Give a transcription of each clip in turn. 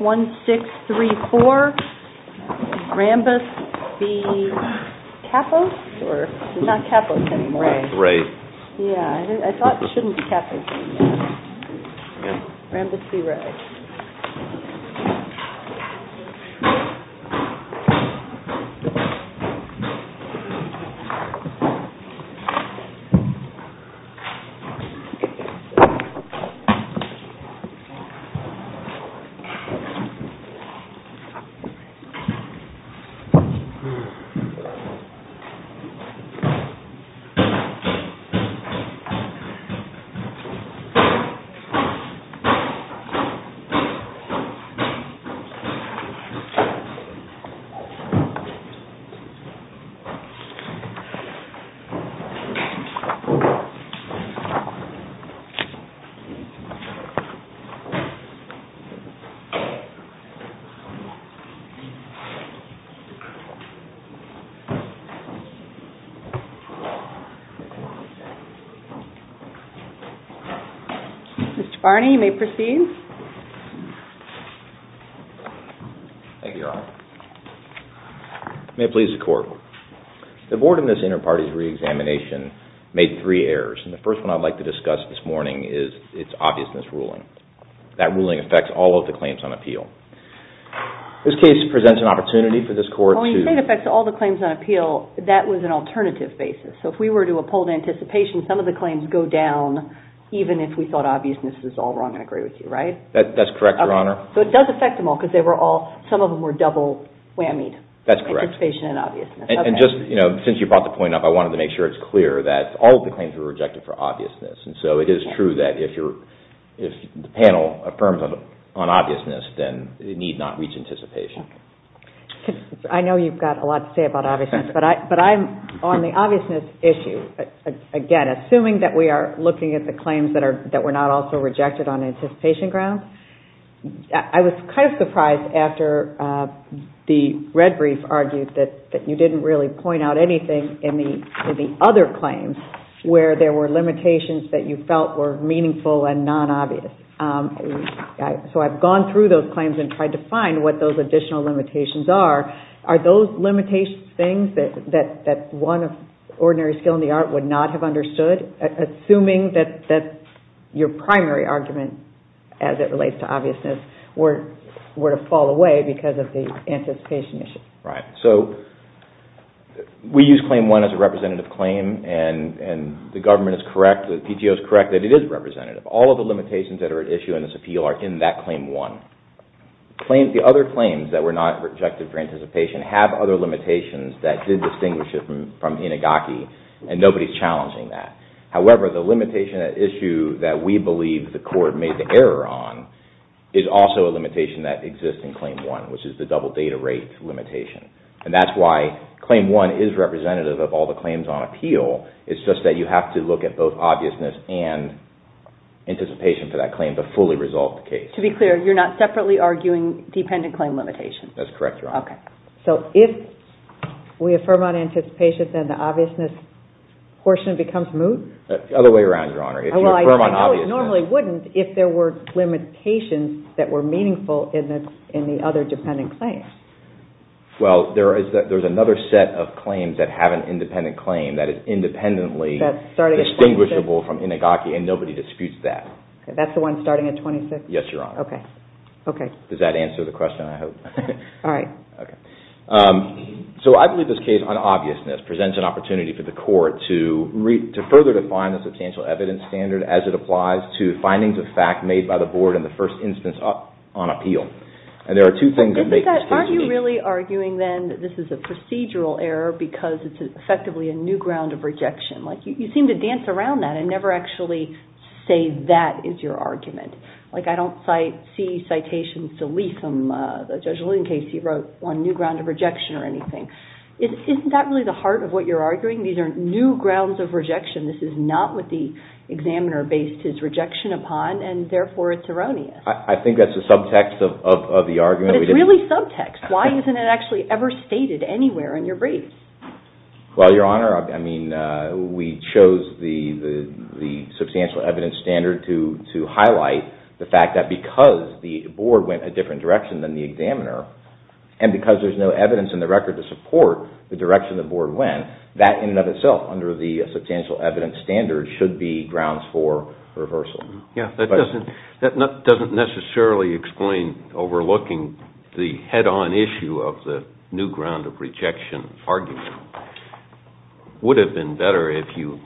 One, six, three, four, Rambus B. Capos, or not Capos anymore. Ray. Yeah, I thought it shouldn't be Capos anymore. Rambus B. Ray. Yeah, I thought it shouldn't be Capos anymore. Mr. Barney, you may proceed. Thank you, Your Honor. May it please the Court. The board in this inter-parties re-examination made three errors, and the first one I'd like to discuss this morning is its obviousness ruling. That ruling affects all of the claims on appeal. This case presents an opportunity for this Court to... Well, when you say it affects all the claims on appeal, that was an alternative basis. So if we were to uphold anticipation, some of the claims go down, even if we thought obviousness was all wrong, and I agree with you, right? That's correct, Your Honor. So it does affect them all, because they were all, some of them were double whammied. That's correct. Anticipation and obviousness. And just, you know, since you brought the point up, I wanted to make sure it's clear that all of the claims were rejected for obviousness. And so it is true that if you're, if the panel affirms on obviousness, then they need not reach anticipation. I know you've got a lot to say about obviousness, but I'm on the obviousness issue. Again, assuming that we are looking at the claims that were not also rejected on anticipation grounds, I was kind of surprised after the red brief argued that you didn't really point out anything in the other claims where there were limitations that you felt were meaningful and non-obvious. So I've gone through those claims and tried to find what those additional limitations are. Are those limitations things that one of ordinary skill in the art would not have understood, assuming that your primary argument as it relates to obviousness were to fall away because of the anticipation issue? Right. So we use Claim 1 as a representative claim, and the government is correct, the PTO is correct that it is representative. All of the limitations that are at issue in this appeal are in that Claim 1. The other claims that were not rejected for anticipation have other limitations that did distinguish it from Inigaki, and nobody's challenging that. However, the limitation at issue that we believe the court made the error on is also a limitation that exists in Claim 1, which is the double data rate limitation. And that's why Claim 1 is representative of all the claims on appeal. It's just that you have to look at both obviousness and anticipation for that claim to fully resolve the case. To be clear, you're not separately arguing dependent claim limitations? That's correct, Your Honor. Okay. So if we affirm on anticipation, then the obviousness portion becomes moot? The other way around, Your Honor. Well, I know it normally wouldn't if there were limitations that were meaningful in the other dependent claims. Well, there's another set of claims that have an independent claim that is independently distinguishable from Inigaki, and nobody disputes that. That's the one starting at 26? Yes, Your Honor. Okay. Does that answer the question, I hope? All right. Okay. So I believe this case on obviousness presents an opportunity for the court to further define the substantial evidence standard as it applies to findings of fact made by the Board in the first instance on appeal. And there are two things that make this case meaningful. Aren't you really arguing then that this is a procedural error because it's effectively a new ground of rejection? You seem to dance around that and never actually say that is your argument. Like, I don't see citations to leaf them, Judge Lincasey wrote, on new ground of rejection or anything. Isn't that really the heart of what you're arguing? These are new grounds of rejection. This is not what the examiner based his rejection upon, and therefore it's erroneous. I think that's a subtext of the argument. But it's really subtext. Why isn't it actually ever stated anywhere in your brief? Well, Your Honor, I mean, we chose the substantial evidence standard to highlight the fact that because the Board went a different direction than the examiner, and because there's no evidence in the record to support the direction the Board went, that in and of itself under the substantial evidence standard should be grounds for reversal. That doesn't necessarily explain overlooking the head-on issue of the new ground of rejection argument. It would have been better if you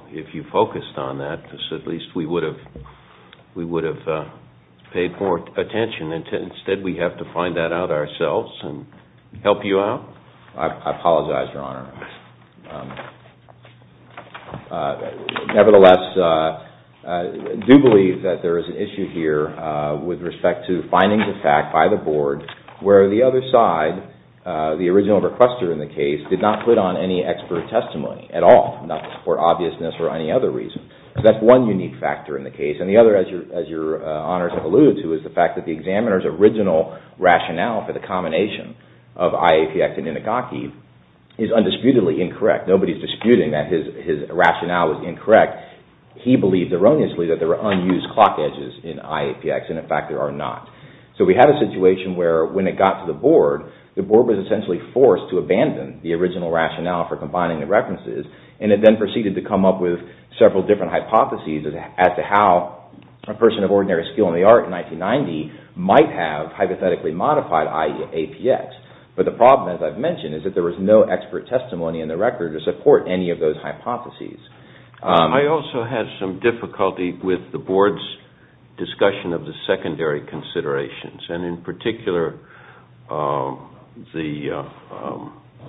focused on that. At least we would have paid more attention. Instead, we have to find that out ourselves and help you out. I apologize, Your Honor. Nevertheless, I do believe that there is an issue here with respect to findings of fact by the Board, where the other side, the original requester in the case, did not put on any expert testimony at all, not to support obviousness or any other reason. So that's one unique factor in the case. And the other, as Your Honors have alluded to, is the fact that the examiner's original rationale for the combination of IAPX and Inigaki is undisputedly incorrect. Nobody is disputing that his rationale is incorrect. He believed erroneously that there are unused clock edges in IAPX, and in fact there are not. So we have a situation where when it got to the Board, the Board was essentially forced to abandon the original rationale for combining the references, and it then proceeded to come up with several different hypotheses as to how a person of ordinary skill in the art in 1990 might have hypothetically modified IAPX. But the problem, as I've mentioned, is that there was no expert testimony in the record to support any of those hypotheses. I also had some difficulty with the Board's discussion of the secondary considerations, and in particular the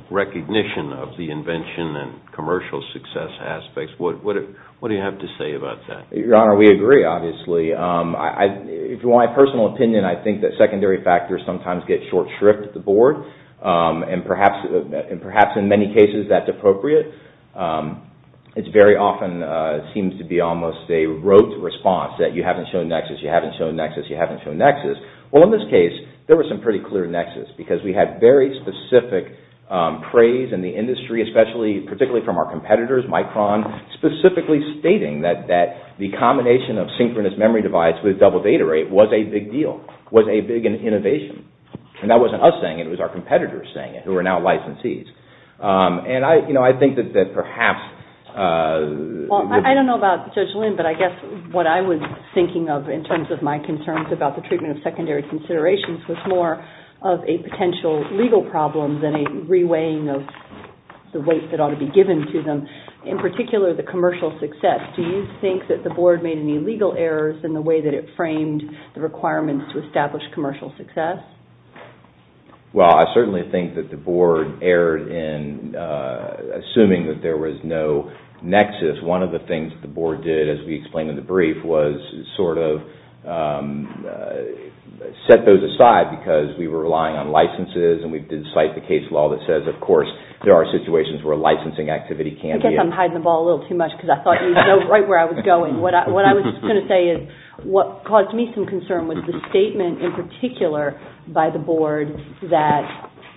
recognition of the invention and commercial success aspects. What do you have to say about that? Your Honor, we agree, obviously. From my personal opinion, I think that secondary factors sometimes get short shrift at the Board, and perhaps in many cases that's appropriate. It very often seems to be almost a rote response, that you haven't shown Nexus, you haven't shown Nexus, you haven't shown Nexus. Well, in this case, there was some pretty clear Nexus, because we had very specific praise in the industry, particularly from our competitors, Micron, specifically stating that the combination of synchronous memory device with double data rate was a big deal, was a big innovation. And that wasn't us saying it, it was our competitors saying it, who are now licensees. And I think that perhaps... Well, I don't know about Judge Lynn, but I guess what I was thinking of in terms of my concerns about the treatment of secondary considerations was more of a potential legal problem than a re-weighing of the weight that ought to be given to them. In particular, the commercial success. Do you think that the Board made any legal errors in the way that it framed the requirements to establish commercial success? Well, I certainly think that the Board erred in assuming that there was no Nexus. One of the things that the Board did, as we explained in the brief, was sort of set those aside, because we were relying on licenses, and we did cite the case law that says, of course, there are situations where licensing activity can be... I guess I'm hiding the ball a little too much, because I thought you'd know right where I was going. What I was going to say is, what caused me some concern was the statement in particular by the Board that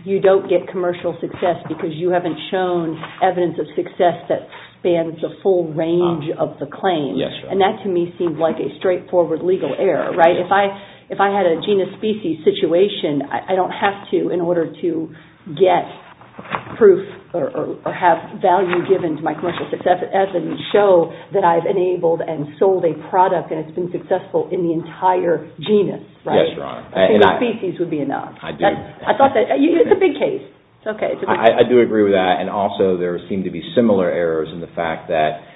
you don't get commercial success because you haven't shown evidence of success that spans the full range of the claims. And that, to me, seemed like a straightforward legal error. If I had a genus-species situation, I don't have to, in order to get proof or have value given to my commercial success, evidence show that I've enabled and sold a product and it's been successful in the entire genus, right? Yes, Your Honor. A genus-species would be enough. I do. I thought that... It's a big case. It's okay. I do agree with that. And also, there seemed to be similar errors in the fact that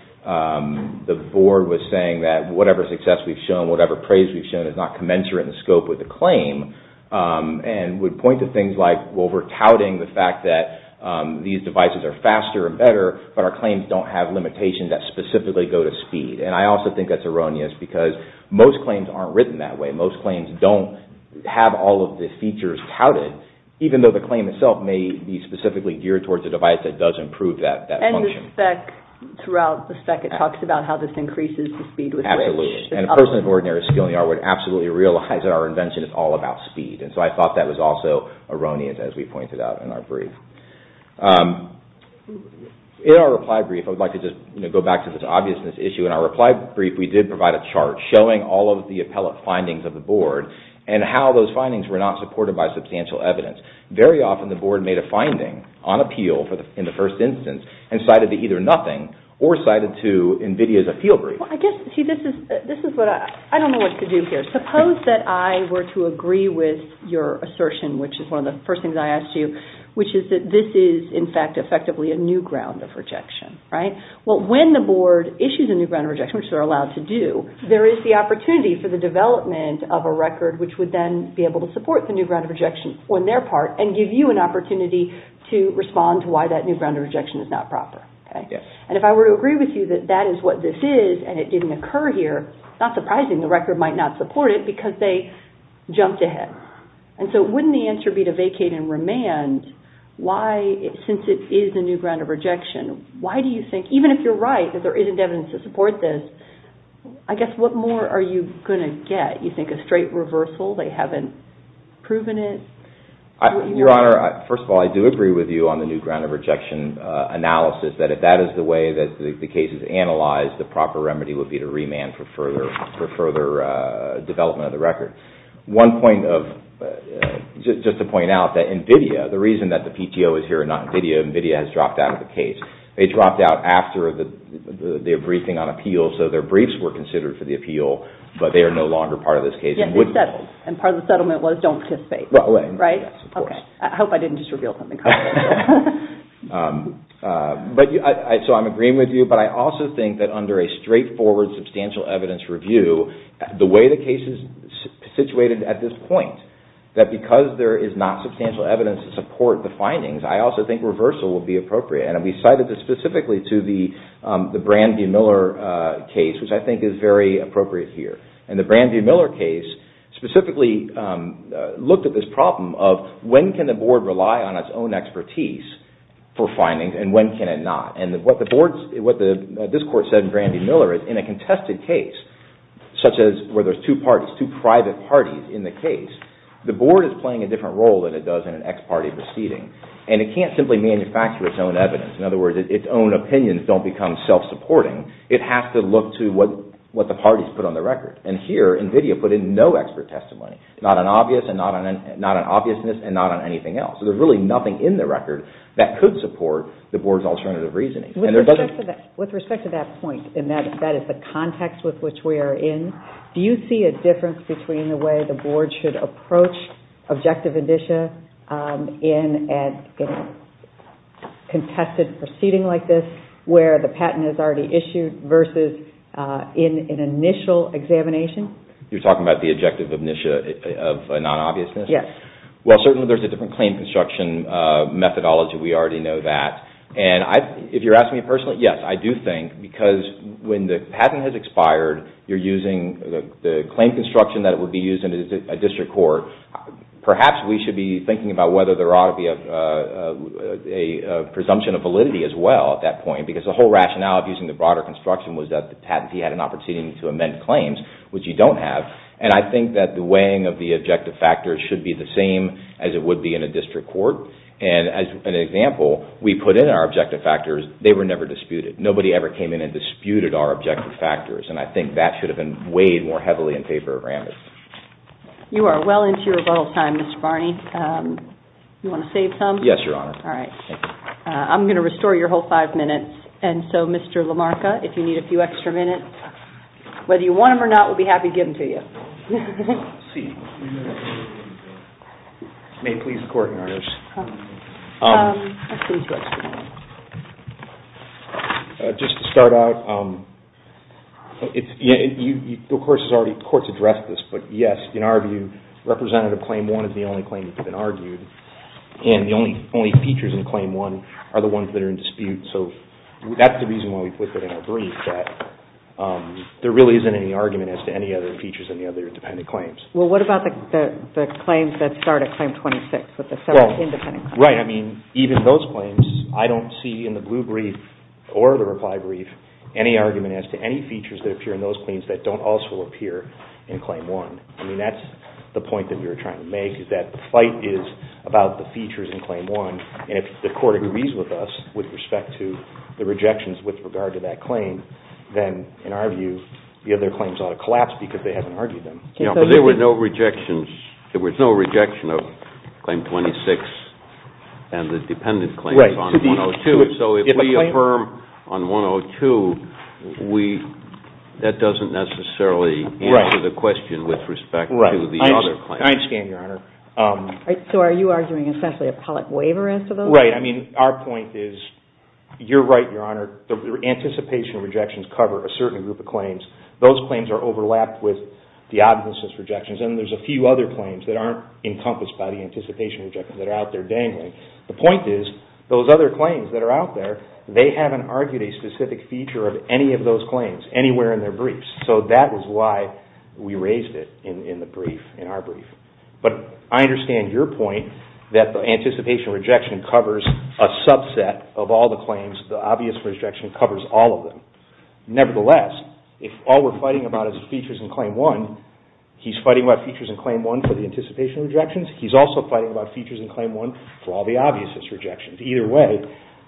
the Board was saying that whatever success we've shown, whatever praise we've shown, does not commensurate in scope with the claim and would point to things like, well, we're touting the fact that these devices are faster and better, but our claims don't have limitations that specifically go to speed. And I also think that's erroneous because most claims aren't written that way. Most claims don't have all of the features touted, even though the claim itself may be specifically geared towards a device that does improve that function. And the spec, throughout the spec, it talks about how this increases the speed with which... Absolutely. And a person of ordinary skill in the art world would absolutely realize that our invention is all about speed. And so I thought that was also erroneous, as we pointed out in our brief. In our reply brief, I would like to just go back to this obviousness issue. In our reply brief, we did provide a chart showing all of the appellate findings of the Board and how those findings were not supported by substantial evidence. Very often, the Board made a finding on appeal in the first instance and cited it either nothing or cited to NVIDIA as a field brief. I don't know what to do here. Suppose that I were to agree with your assertion, which is one of the first things I asked you, which is that this is, in fact, effectively a new ground of rejection. Well, when the Board issues a new ground of rejection, which they're allowed to do, there is the opportunity for the development of a record which would then be able to support the new ground of rejection on their part and give you an opportunity to respond to why that new ground of rejection is not proper. And if I were to agree with you that that is what this is and it didn't occur here, not surprising the record might not support it because they jumped ahead. And so wouldn't the answer be to vacate and remand? Why, since it is a new ground of rejection, why do you think, even if you're right, that there isn't evidence to support this, I guess what more are you going to get? You think a straight reversal, they haven't proven it? Your Honor, first of all, I do agree with you on the new ground of rejection analysis that if that is the way that the case is analyzed, the proper remedy would be to remand for further development of the record. One point, just to point out that NVIDIA, the reason that the PTO is here and not NVIDIA, NVIDIA has dropped out of the case. They dropped out after their briefing on appeals, so their briefs were considered for the appeal, but they are no longer part of this case. And part of the settlement was don't participate, right? Yes, of course. I hope I didn't just reveal something. So I'm agreeing with you, but I also think that under a straightforward substantial evidence review, the way the case is situated at this point, that because there is not substantial evidence to support the findings, I also think reversal would be appropriate. And we cited this specifically to the Brand v. Miller case, which I think is very appropriate here. And the Brand v. Miller case specifically looked at this problem of when can a board rely on its own expertise for findings and when can it not? And what this court said in Brand v. Miller is in a contested case such as where there's two parties, two private parties in the case, the board is playing a different role than it does in an ex-party proceeding. And it can't simply manufacture its own evidence. In other words, its own opinions don't become self-supporting. It has to look to what the parties put on the record. And here NVIDIA put in no expert testimony, not on obviousness and not on anything else. So there's really nothing in the record that could support the board's alternative reasoning. With respect to that point, and that is the context with which we are in, do you see a difference between the way the board should approach objective initia in a contested proceeding like this where the patent is already issued versus in an initial examination? You're talking about the objective initia of non-obviousness? Yes. Well, certainly there's a different claim construction methodology, we already know that. And if you're asking me personally, yes, I do think, because when the patent has expired, you're using the claim construction that would be used in a district court. Perhaps we should be thinking about whether there ought to be a presumption of validity as well at that point, because the whole rationale of using the broader construction was that the patentee had an opportunity to amend claims, which you don't have. And I think that the weighing of the objective factors should be the same as it would be in a district court. And as an example, we put in our objective factors, they were never disputed. Nobody ever came in and disputed our objective factors. And I think that should have been weighed more heavily in favor of Ramis. You are well into your rebuttal time, Mr. Barney. You want to save some? Yes, Your Honor. All right. I'm going to restore your whole five minutes. And so Mr. LaMarca, if you need a few extra minutes, whether you want them or not, we'll be happy to give them to you. Let's see. May it please the Court, Your Honors. Just to start out, the Court's addressed this. But yes, in our view, Representative Claim 1 is the only claim that's been argued. And the only features in Claim 1 are the ones that are in dispute. So that's the reason why we put that in our brief, that there really isn't any argument as to any other features in the other independent claims. Well, what about the claims that start at Claim 26 with the seven independent claims? Right. I mean, even those claims, I don't see in the blue brief or the reply brief any argument as to any features that appear in those claims that don't also appear in Claim 1. I mean, that's the point that we were trying to make, is that the fight is about the features in Claim 1. And if the Court agrees with us with respect to the rejections with regard to that claim, then in our view, the other claims ought to collapse because they haven't argued them. Yeah, but there was no rejection of Claim 26 and the dependent claims on 102. So if we affirm on 102, that doesn't necessarily answer the question with respect to the other claims. I understand, Your Honor. So are you arguing essentially a public waiver as to those? Right. I mean, our point is, you're right, Your Honor. The anticipation rejections cover a certain group of claims. Those claims are overlapped with the obviousness rejections. And there's a few other claims that aren't encompassed by the anticipation rejections that are out there dangling. The point is, those other claims that are out there, they haven't argued a specific feature of any of those claims anywhere in their briefs. So that is why we raised it in the brief, in our brief. But I understand your point that the anticipation rejection covers a subset of all the claims, the obvious rejection covers all of them. Nevertheless, if all we're fighting about is features in Claim 1, he's fighting about features in Claim 1 for the anticipation rejections, he's also fighting about features in Claim 1 for all the obviousness rejections. Either way,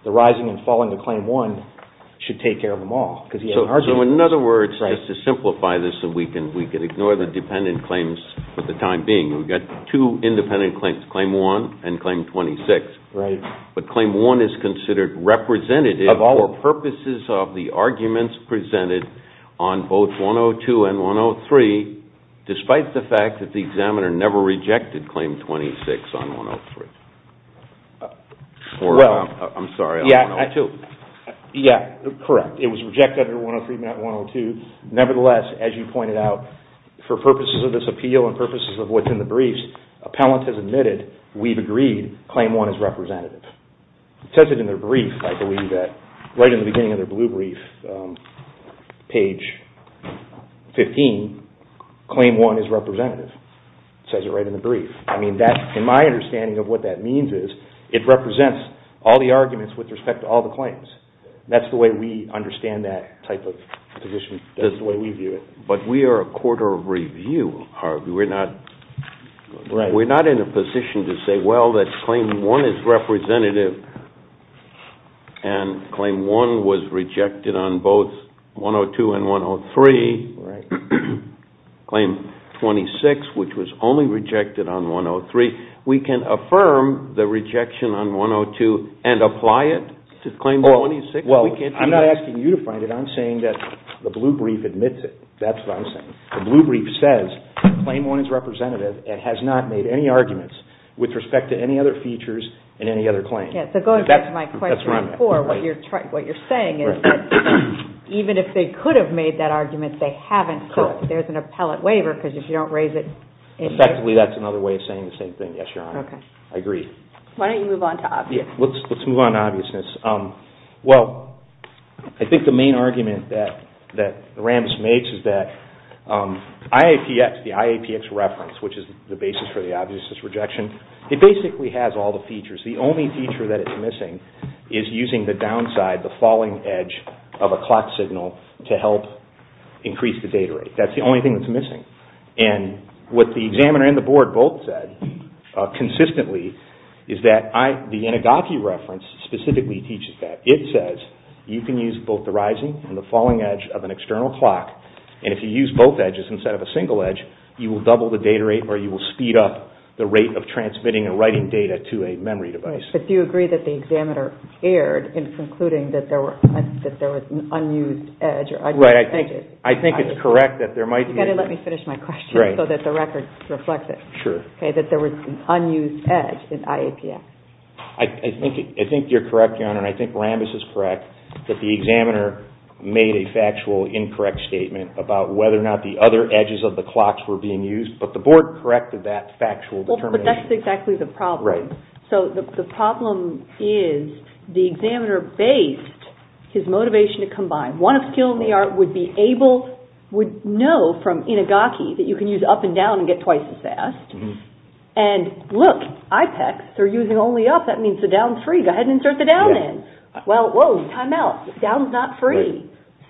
the rising and falling of Claim 1 should take care of them all. So in other words, just to simplify this, we can ignore the dependent claims for the time being. We've got two independent claims, Claim 1 and Claim 26. Right. But Claim 1 is considered representative for purposes of the arguments presented on both 102 and 103, despite the fact that the examiner never rejected Claim 26 on 103. I'm sorry, on 102. Yeah, correct. It was rejected under 103, not 102. Nevertheless, as you pointed out, for purposes of this appeal and purposes of what's in the briefs, Appellant has admitted, we've agreed Claim 1 is representative. It says it in their brief, I believe, right in the beginning of their blue brief, page 15, Claim 1 is representative. It says it right in the brief. I mean, in my understanding of what that means is it represents all the arguments with respect to all the claims. That's the way we understand that type of position. That's the way we view it. But we are a court of review, Harvey. We're not in a position to say, well, that Claim 1 is representative and Claim 1 was rejected on both 102 and 103, Claim 26, which was only rejected on 103. We can affirm the rejection on 102 and apply it to Claim 26. Well, I'm not asking you to find it. I'm saying that the blue brief admits it. That's what I'm saying. The blue brief says Claim 1 is representative and has not made any arguments with respect to any other features and any other claims. Yes, so go ahead and answer my question before. That's where I'm at. What you're saying is that even if they could have made that argument, they haven't, so there's an appellate waiver because if you don't raise it... Effectively, that's another way of saying the same thing. Yes, Your Honor. Okay. I agree. Why don't you move on to obviousness? Let's move on to obviousness. Well, I think the main argument that Rambis makes is that IAPX, the IAPX reference, which is the basis for the obviousness rejection, it basically has all the features. The only feature that it's missing is using the downside, the falling edge of a clock signal to help increase the data rate. That's the only thing that's missing. What the examiner and the board both said consistently is that the Inigaki reference specifically teaches that. It says you can use both the rising and the falling edge of an external clock, and if you use both edges instead of a single edge, you will double the data rate or you will speed up the rate of transmitting and writing data to a memory device. But do you agree that the examiner erred in concluding that there was an unused edge? Right. I think it's correct that there might be... You've got to let me finish my question so that the record reflects it. Sure. Okay, that there was an unused edge in IAPX. I think you're correct, Your Honor, and I think Rambis is correct, that the examiner made a factual incorrect statement about whether or not the other edges of the clocks were being used, but the board corrected that factual determination. But that's exactly the problem. Right. So the problem is the examiner based his motivation to combine. One of skill in the art would know from Inigaki that you can use up and down and get twice as fast, and look, IAPX, they're using only up. That means the down's free. Go ahead and insert the down in. Well, whoa, time out. Down's not free.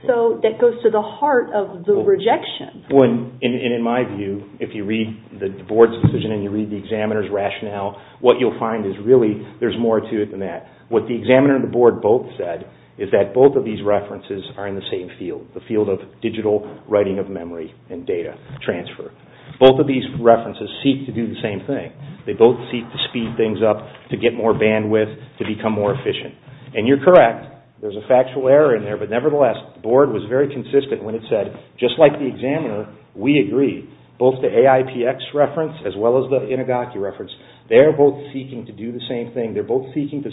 So that goes to the heart of the rejection. And in my view, if you read the board's decision and you read the examiner's rationale, what you'll find is really there's more to it than that. What the examiner and the board both said is that both of these references are in the same field, the field of digital writing of memory and data transfer. Both of these references seek to do the same thing. They both seek to speed things up, to get more bandwidth, to become more efficient. And you're correct, there's a factual error in there, but nevertheless, the board was very consistent when it said just like the examiner, we agree. Both the AIPX reference as well as the Inigaki reference, they're both seeking to do the same thing. They're both seeking to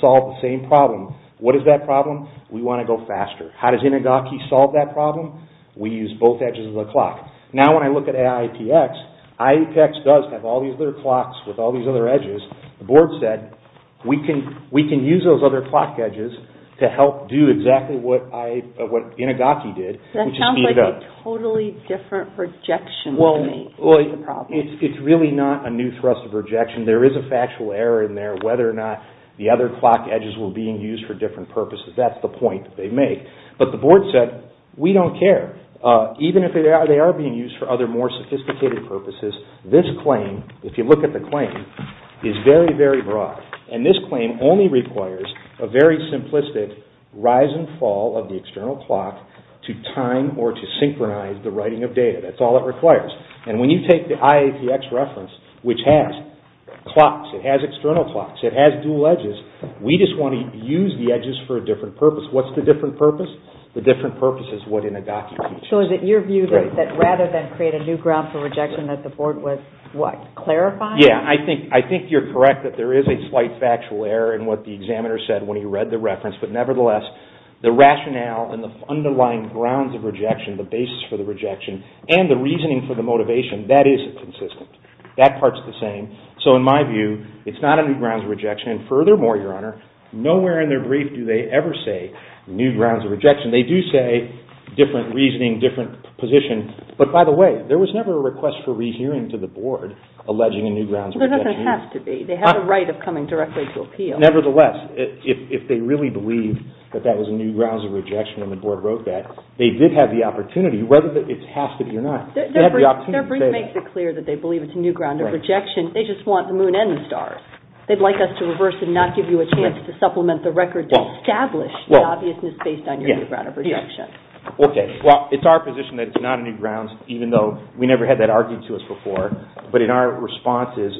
solve the same problem. What is that problem? We want to go faster. How does Inigaki solve that problem? We use both edges of the clock. Now when I look at AIPX, AIPX does have all these other clocks with all these other edges. The board said, we can use those other clock edges to help do exactly what Inigaki did, which is speed it up. That sounds like a totally different projection to me. Well, it's really not a new thrust of rejection. There is a factual error in there, whether or not the other clock edges were being used for different purposes. That's the point that they make. But the board said, we don't care. Even if they are being used for other more sophisticated purposes, this claim, if you look at the claim, is very, very broad. And this claim only requires a very simplistic rise and fall of the external clock to time or to synchronize the writing of data. That's all it requires. And when you take the IAPX reference, which has clocks, it has external clocks, it has dual edges, we just want to use the edges for a different purpose. What's the different purpose? The different purpose is what Inigaki teaches. So is it your view that rather than create a new ground for rejection that the board was, what, clarifying? Yeah, I think you're correct that there is a slight factual error in what the examiner said when he read the reference. But nevertheless, the rationale and the underlying grounds of rejection, the basis for the rejection, and the reasoning for the motivation, That part's the same. So in my view, it's not a new ground for rejection. And furthermore, Your Honor, nowhere in their brief do they ever say new grounds of rejection. They do say different reasoning, different position. But by the way, there was never a request for rehearing to the board alleging a new grounds of rejection. There doesn't have to be. They have a right of coming directly to appeal. Nevertheless, if they really believe that that was a new grounds of rejection and the board wrote that, they did have the opportunity, whether it has to be or not. Their brief makes it clear that they believe it's a new ground of rejection. They just want the moon and the stars. They'd like us to reverse and not give you a chance to supplement the record to establish the obviousness based on your new ground of rejection. Okay, well, it's our position that it's not a new grounds, even though we never had that argued to us before. But in our responses,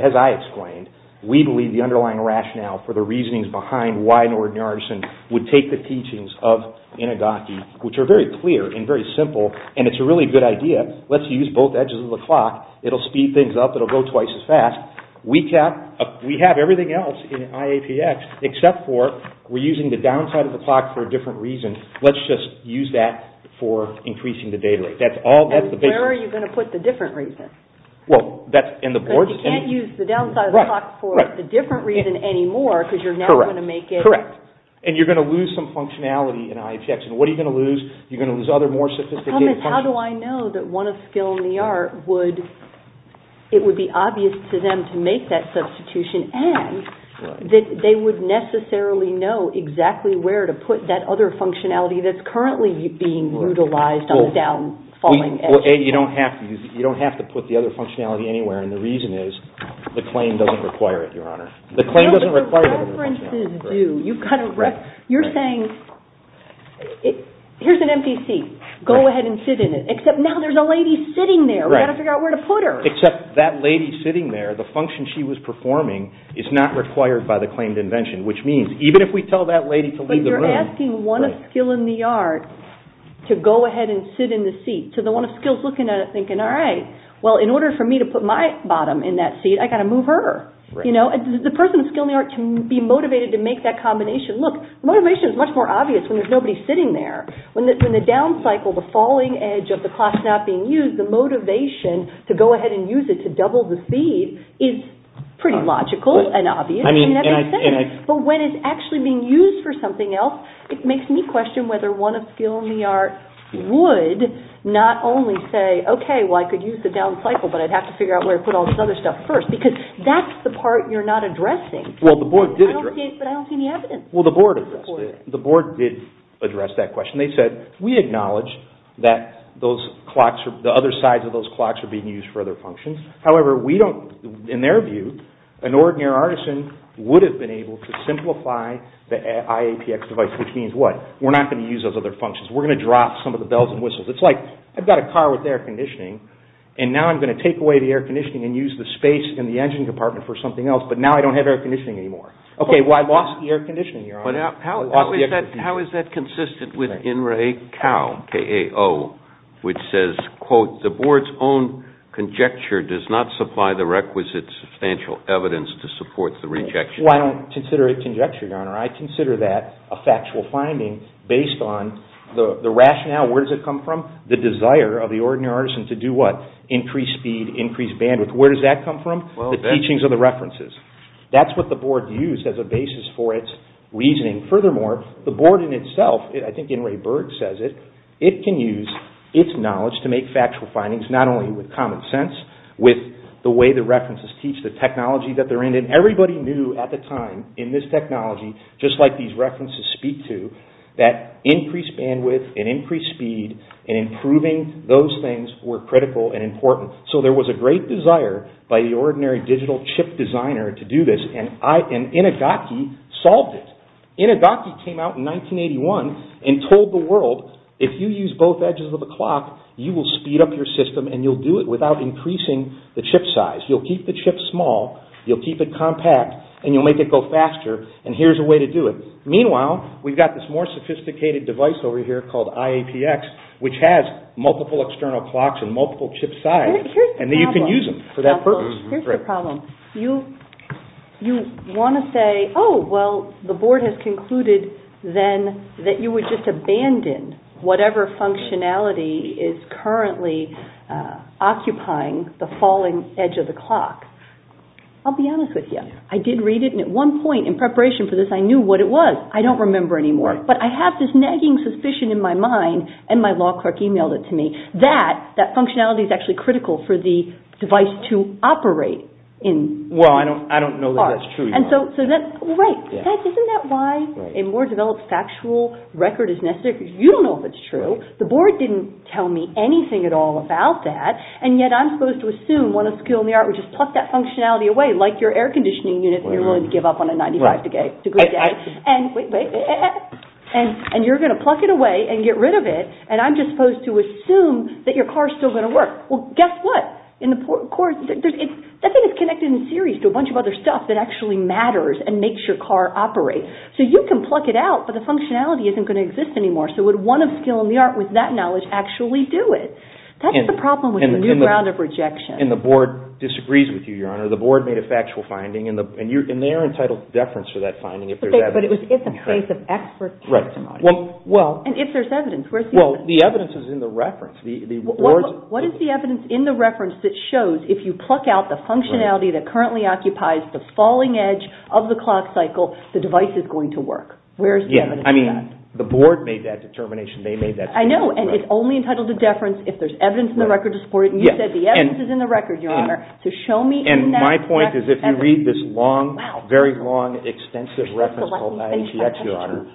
as I explained, we believe the underlying rationale for the reasonings behind why an ordinary artisan would take the teachings of Inigaki, which are very clear and very simple, and it's a really good idea. Let's use both edges of the clock. It'll speed things up. It'll go twice as fast. We have everything else in IAPX except for we're using the downside of the clock for a different reason. Let's just use that for increasing the data rate. That's all. And where are you going to put the different reason? Well, that's in the board. But you can't use the downside of the clock for the different reason anymore because you're not going to make it. Correct. And you're going to lose some functionality in IAPX. And what are you going to lose? You're going to lose other more sophisticated functions. The problem is, how do I know that one of skill in the art would, it would be obvious to them to make that substitution and that they would necessarily know exactly where to put that other functionality that's currently being utilized on the downfalling edge. You don't have to put the other functionality anywhere and the reason is the claim doesn't require it, Your Honor. The claim doesn't require it. No, but the preferences do. You've got to, you're saying, here's an empty seat. Go ahead and sit in it. Except now there's a lady sitting there. We've got to figure out where to put her. Except that lady sitting there, the function she was performing is not required by the claimed invention which means even if we tell that lady to leave the room. But you're asking one of skill in the art to go ahead and sit in the seat to the one of skills looking at it thinking, all right, well in order for me to put my bottom in that seat, I've got to move her. The person with skill in the art can be motivated to make that combination. Look, motivation is much more obvious when there's nobody sitting there. When the down cycle, the falling edge of the clock's not being used, the motivation to go ahead and use it to double the speed is pretty logical and obvious. But when it's actually being used for something else, it makes me question whether one of skill in the art would not only say, okay, well I could use the down cycle but I'd have to figure out where to put all this other stuff first because that's the part you're not addressing. But I don't see any evidence. Well, the board addressed it. The board did address that question. They said, we acknowledge that those clocks, the other sides of those clocks are being used for other functions. However, we don't, in their view, an ordinary artisan would have been able to simplify the IAPX device, which means what? We're not going to use those other functions. We're going to drop some of the bells and whistles. It's like, I've got a car with air conditioning and now I'm going to take away the air conditioning and use the space in the engine compartment for something else, but now I don't have air conditioning anymore. Okay, well I lost the air conditioning, Your Honor. How is that consistent with In Re Cal, K-A-O, which says, quote, the board's own conjecture does not supply the requisite substantial evidence to support the rejection. Well, I don't consider it conjecture, Your Honor. I consider that a factual finding based on the rationale. Where does it come from? The desire of the ordinary artisan to do what? Increase speed, increase bandwidth. Where does that come from? The teachings of the references. That's what the board used as a basis for its reasoning. Furthermore, the board in itself, I think In Re Berg says it, it can use its knowledge to make factual findings not only with common sense, with the way the references teach, the technology that they're in, and everybody knew at the time in this technology, just like these references speak to, that increased bandwidth and increased speed and improving those things were critical and important. So there was a great desire by the ordinary digital chip designer to do this and Inugaki solved it. Inugaki came out in 1981 and told the world, if you use both edges of a clock, you will speed up your system and you'll do it without increasing the chip size. You'll keep the chip small, you'll keep it compact, and you'll make it go faster, and here's a way to do it. Meanwhile, we've got this more sophisticated device over here called IAPX, which has multiple external clocks and multiple chip sizes, and you can use them for that purpose. Here's the problem. You want to say, oh, well, the board has concluded then that you would just abandon whatever functionality is currently occupying the falling edge of the clock. I'll be honest with you. I did read it, and at one point in preparation for this, I knew what it was. I don't remember anymore, but I have this nagging suspicion in my mind, and my law clerk emailed it to me, that that functionality is actually critical for the device to operate. Well, I don't know that that's true. Right. Isn't that why a more developed factual record is necessary? You don't know if it's true. The board didn't tell me anything at all about that, and yet I'm supposed to assume one of the skills in the art which is pluck that functionality away, like your air conditioning unit that you're willing to give up on a 95 to get to a good day, and you're going to pluck it away and get rid of it, and I'm just supposed to assume that your car's still going to work. Well, guess what? That thing is connected in series to a bunch of other stuff that actually matters and makes your car operate. So you can pluck it out, but the functionality isn't going to exist anymore. So would one of skill in the art with that knowledge actually do it? That's the problem with a new ground of rejection. And the board disagrees with you, Your Honor. The board made a factual finding, and they are entitled to deference for that finding if there's evidence. But it's a case of expert testimony. And if there's evidence, where's the evidence? Well, the evidence is in the reference. What is the evidence in the reference that shows if you pluck out the functionality that currently occupies the falling edge of the clock cycle, the device is going to work? Yeah, I mean, the board made that determination. They made that determination. I know, and it's only entitled to deference if there's evidence in the record to support it. And you said the evidence is in the record, Your Honor. So show me in that reference evidence. And my point is if you read this long, very long, extensive reference called 980X, Your Honor,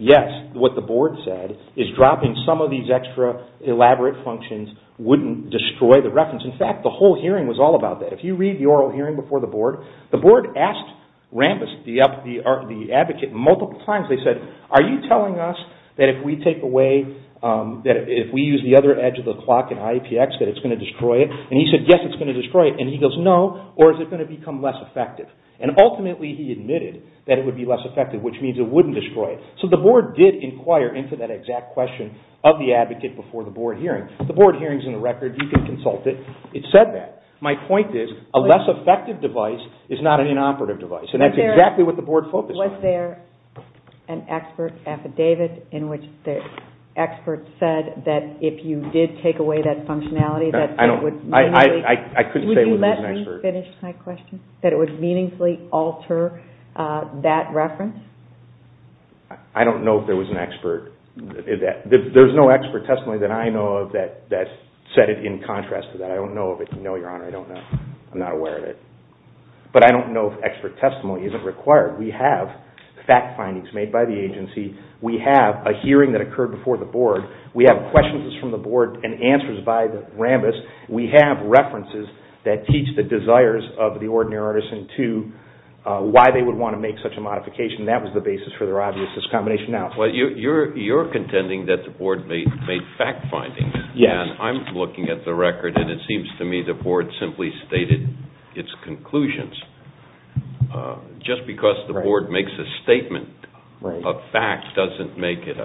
yes, what the board said is dropping some of these extra elaborate functions wouldn't destroy the reference. In fact, the whole hearing was all about that. If you read the oral hearing before the board, the board asked Rambis, the advocate, multiple times, they said, are you telling us that if we take away, that if we use the other edge of the clock in IAPX that it's going to destroy it? And he said, yes, it's going to destroy it. And he goes, no. Or is it going to become less effective? And ultimately he admitted that it would be less effective, which means it wouldn't destroy it. So the board did inquire into that exact question of the advocate before the board hearing. The board hearing's in the record. You can consult it. It said that. My point is, a less effective device is not an inoperative device. And that's exactly what the board focused on. Was there an expert affidavit in which the expert said that if you did take away that functionality, that it would meaningfully... I couldn't say it was an expert. Would you let me finish my question? That it would meaningfully alter that reference? I don't know if there was an expert. There's no expert testimony that I know of that said it in contrast to that. I don't know of it. No, Your Honor, I don't know. I'm not aware of it. But I don't know if expert testimony isn't required. We have fact findings made by the agency. We have a hearing that occurred before the board. We have questions from the board and answers by the Rambis. We have references that teach the desires of the ordinary artisan to why they would want to make such a modification. That was the basis for their obvious discombination. Well, you're contending that the board made fact findings. Yes. I'm looking at the record and it seems to me the board simply stated its conclusions. Just because the board makes a statement of fact doesn't make it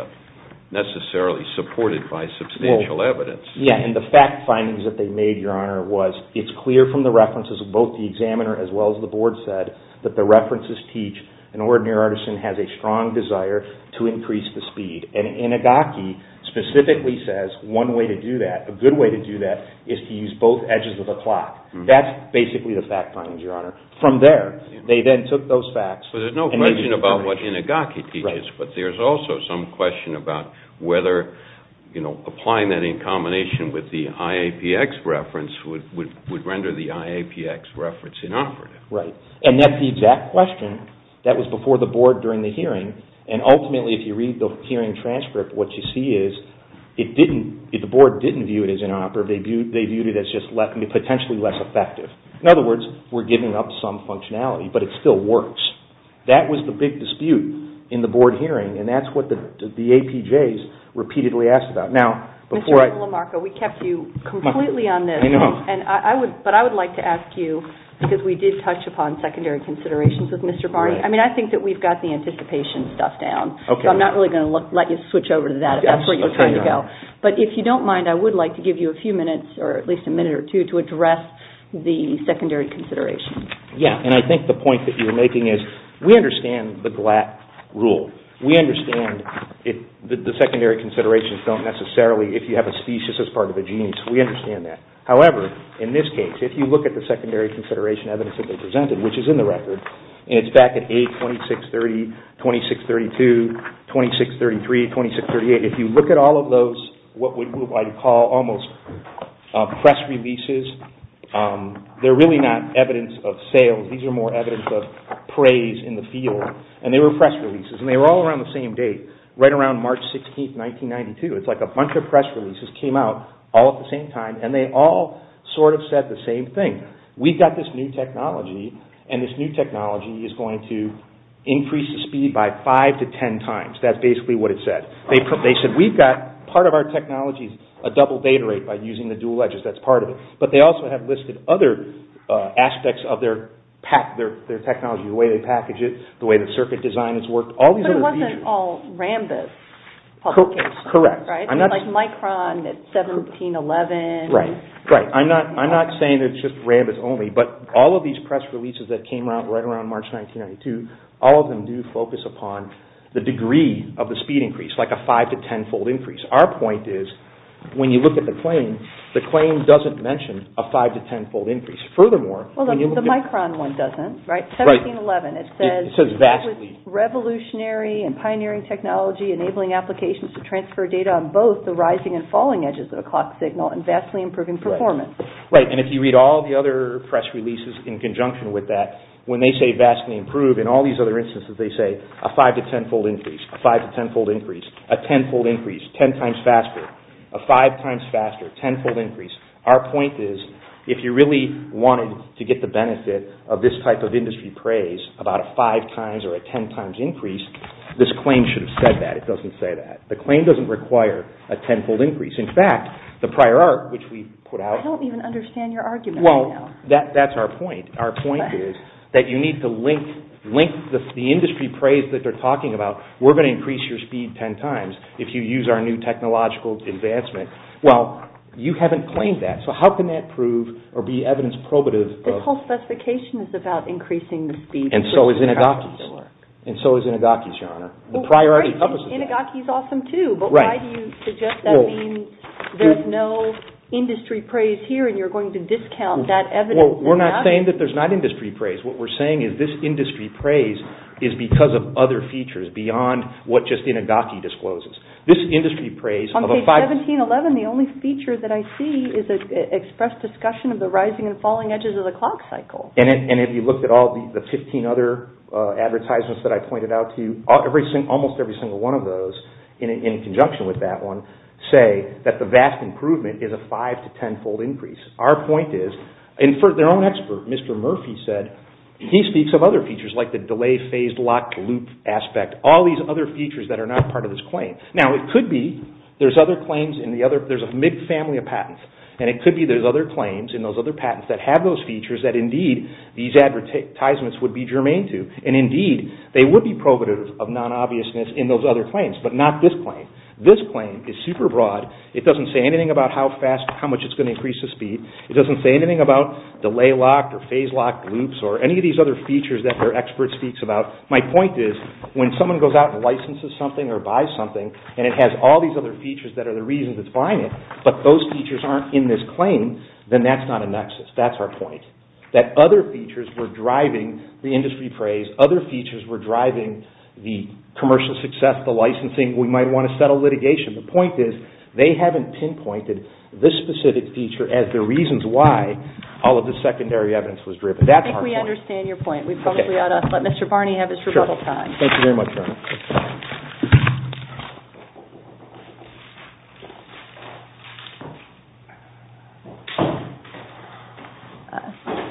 necessarily supported by substantial evidence. Yeah, and the fact findings that they made, Your Honor, was it's clear from the references of both the examiner as well as the board said that the references teach an ordinary artisan has a strong desire to increase the speed. And Inagaki specifically says one way to do that, a good way to do that, is to use both edges of the clock. That's basically the fact findings, Your Honor. From there, they then took those facts... So there's no question about what Inagaki teaches, but there's also some question about whether applying that in combination with the IAPX reference would render the IAPX reference inoperative. Right. And that's the exact question that was before the board during the hearing. And ultimately, if you read the hearing transcript, what you see is the board didn't view it as inoperative. They viewed it as just potentially less effective. In other words, we're giving up some functionality, but it still works. That was the big dispute in the board hearing, and that's what the APJs repeatedly asked about. Mr. Lamarco, we kept you completely on this. I know. But I would like to ask you, because we did touch upon secondary considerations with Mr. Barney. I mean, I think that we've got the anticipation stuff down. So I'm not really going to let you switch over to that if that's where you're trying to go. But if you don't mind, I would like to give you a few minutes, or at least a minute or two, to address the secondary considerations. Yeah, and I think the point that you're making is we understand the GLAT rule. We understand that the secondary considerations don't necessarily, if you have a species as part of a gene, we understand that. However, in this case, if you look at the secondary consideration evidence that they presented, which is in the record, and it's back at A2630, 2632, 2633, 2638, if you look at all of those, what I would call almost press releases, they're really not evidence of sales. These are more evidence of praise in the field. And they were press releases, and they were all around the same date, right around March 16, 1992. It's like a bunch of press releases came out all at the same time, and they all sort of said the same thing. We've got this new technology, and this new technology is going to increase the speed by five to ten times. That's basically what it said. They said, we've got part of our technology a double data rate by using the dual edges. That's part of it. But they also have listed other aspects of their technology, the way they package it, the way the circuit design has worked, all these other features. But it wasn't all Rambis. Correct. Like Micron at 1711. Right. I'm not saying it's just Rambis only, but all of these press releases that came out right around March 1992, all of them do focus upon the degree of the speed increase, like a five to ten fold increase. Our point is, when you look at the claim, the claim doesn't mention a five to ten fold increase. Furthermore, Well, the Micron one doesn't, right? 1711. It says, with revolutionary and pioneering technology enabling applications to transfer data on both the rising and falling edges of a clock signal and vastly improving performance. Right. And if you read all the other press releases in conjunction with that, when they say vastly improved, in all these other instances, they say a five to ten fold increase, a five to ten fold increase, a ten fold increase, ten times faster, a five times faster, ten fold increase. Our point is, if you really wanted to get the benefit of this type of industry praise about a five times or a ten times increase, this claim should have said that. It doesn't say that. The claim doesn't require a ten fold increase. In fact, the prior art, which we put out, I don't even understand your argument right now. Well, that's our point. Our point is that you need to link the industry praise that they're talking about. We're going to increase your speed ten times if you use our new technological advancement. Well, you haven't claimed that. So how can that prove or be evidence probative of, This whole specification is about increasing the speed. And so is Inigaki's. And so is Inigaki's, Your Honor. The prior art encompasses that. Inigaki's awesome too, but why do you suggest that you're saying there's no industry praise here and you're going to discount that evidence? We're not saying that there's not industry praise. What we're saying is this industry praise is because of other features beyond what just Inigaki discloses. This industry praise, On page 1711, the only feature that I see is an expressed discussion of the rising and falling edges of the clock cycle. And if you looked at all the 15 other advertisements that I pointed out to you, almost every single one of those, in conjunction with that one, say that the vast improvement is a five to tenfold increase. Our point is, and for their own expert, Mr. Murphy said, he speaks of other features like the delay phased lock loop aspect, all these other features that are not part of this claim. Now, it could be there's other claims in the other, there's a mid-family of patents. And it could be there's other claims in those other patents that have those features that indeed these advertisements would be germane to. And indeed, they would be probative of non-obviousness in those other claims, but not this claim. This claim is super broad. It doesn't say anything about how fast, how much it's going to increase the speed. It doesn't say anything about delay lock or phase lock loops or any of these other features that their expert speaks about. My point is, when someone goes out and licenses something or buys something, and it has all these other features that are the reasons it's buying it, but those features aren't in this claim, then that's not a nexus. That's our point. That other features were driving the industry praise. Other features were driving the commercial success, the licensing. We might want to settle litigation. The point is, they haven't pinpointed this specific feature as the reasons why all of this secondary evidence was driven. That's our point. I think we understand your point. We probably ought to let Mr. Barney have his rebuttal time. Sure. Thank you very much.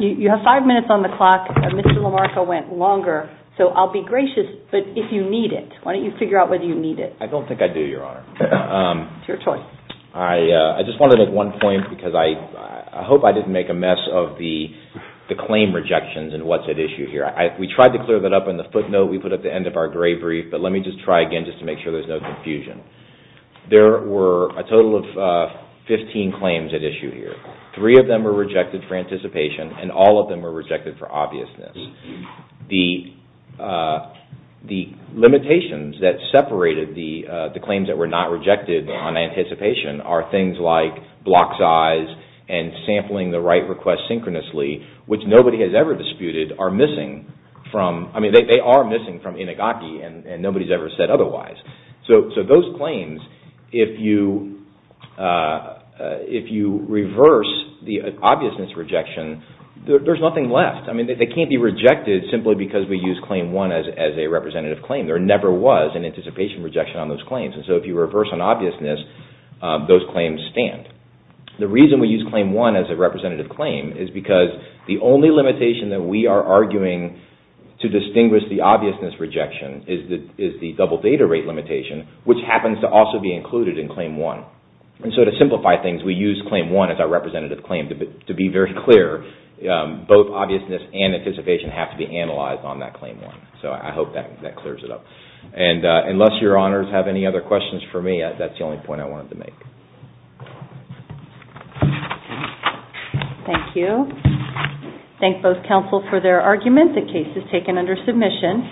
You have five minutes on the clock. Mr. LaMarco went longer, so I'll be gracious, but if you need it, why don't you figure out whether you need it? I don't think I do, Your Honor. It's your choice. I just wanted to make one point because I hope I didn't make a mess of the claim rejections and what's at issue here. We tried to clear that up in the footnote we put at the end of our gray brief, but let me just try again just to make sure there's no confusion. There were a total of 15 claims at issue here. Three of them were rejected for anticipation, and all of them were rejected for obviousness. The limitations that separated the claims that were not rejected on anticipation are things like block size and sampling the right request synchronously, which nobody has ever disputed are missing from, I mean, they are missing from Inigaki, and nobody's ever said otherwise. So those claims, if you reverse the obviousness rejection, there's nothing left. I mean, they can't be rejected simply because we use Claim 1 as a representative claim. There never was an anticipation rejection on those claims, and so if you reverse an obviousness, those claims stand. The reason we use Claim 1 as a representative claim is because the only limitation that we are arguing to distinguish the obviousness rejection is the double data rate limitation, which happens to also be included in Claim 1. And so to simplify things, we use Claim 1 as our representative claim to be very clear, both obviousness and anticipation have to be analyzed on that Claim 1. So I hope that clears it up. And unless your honors have any other questions for me, that's the only point I wanted to make. Thank you. Thank both counsels for their argument. The case is taken under submission.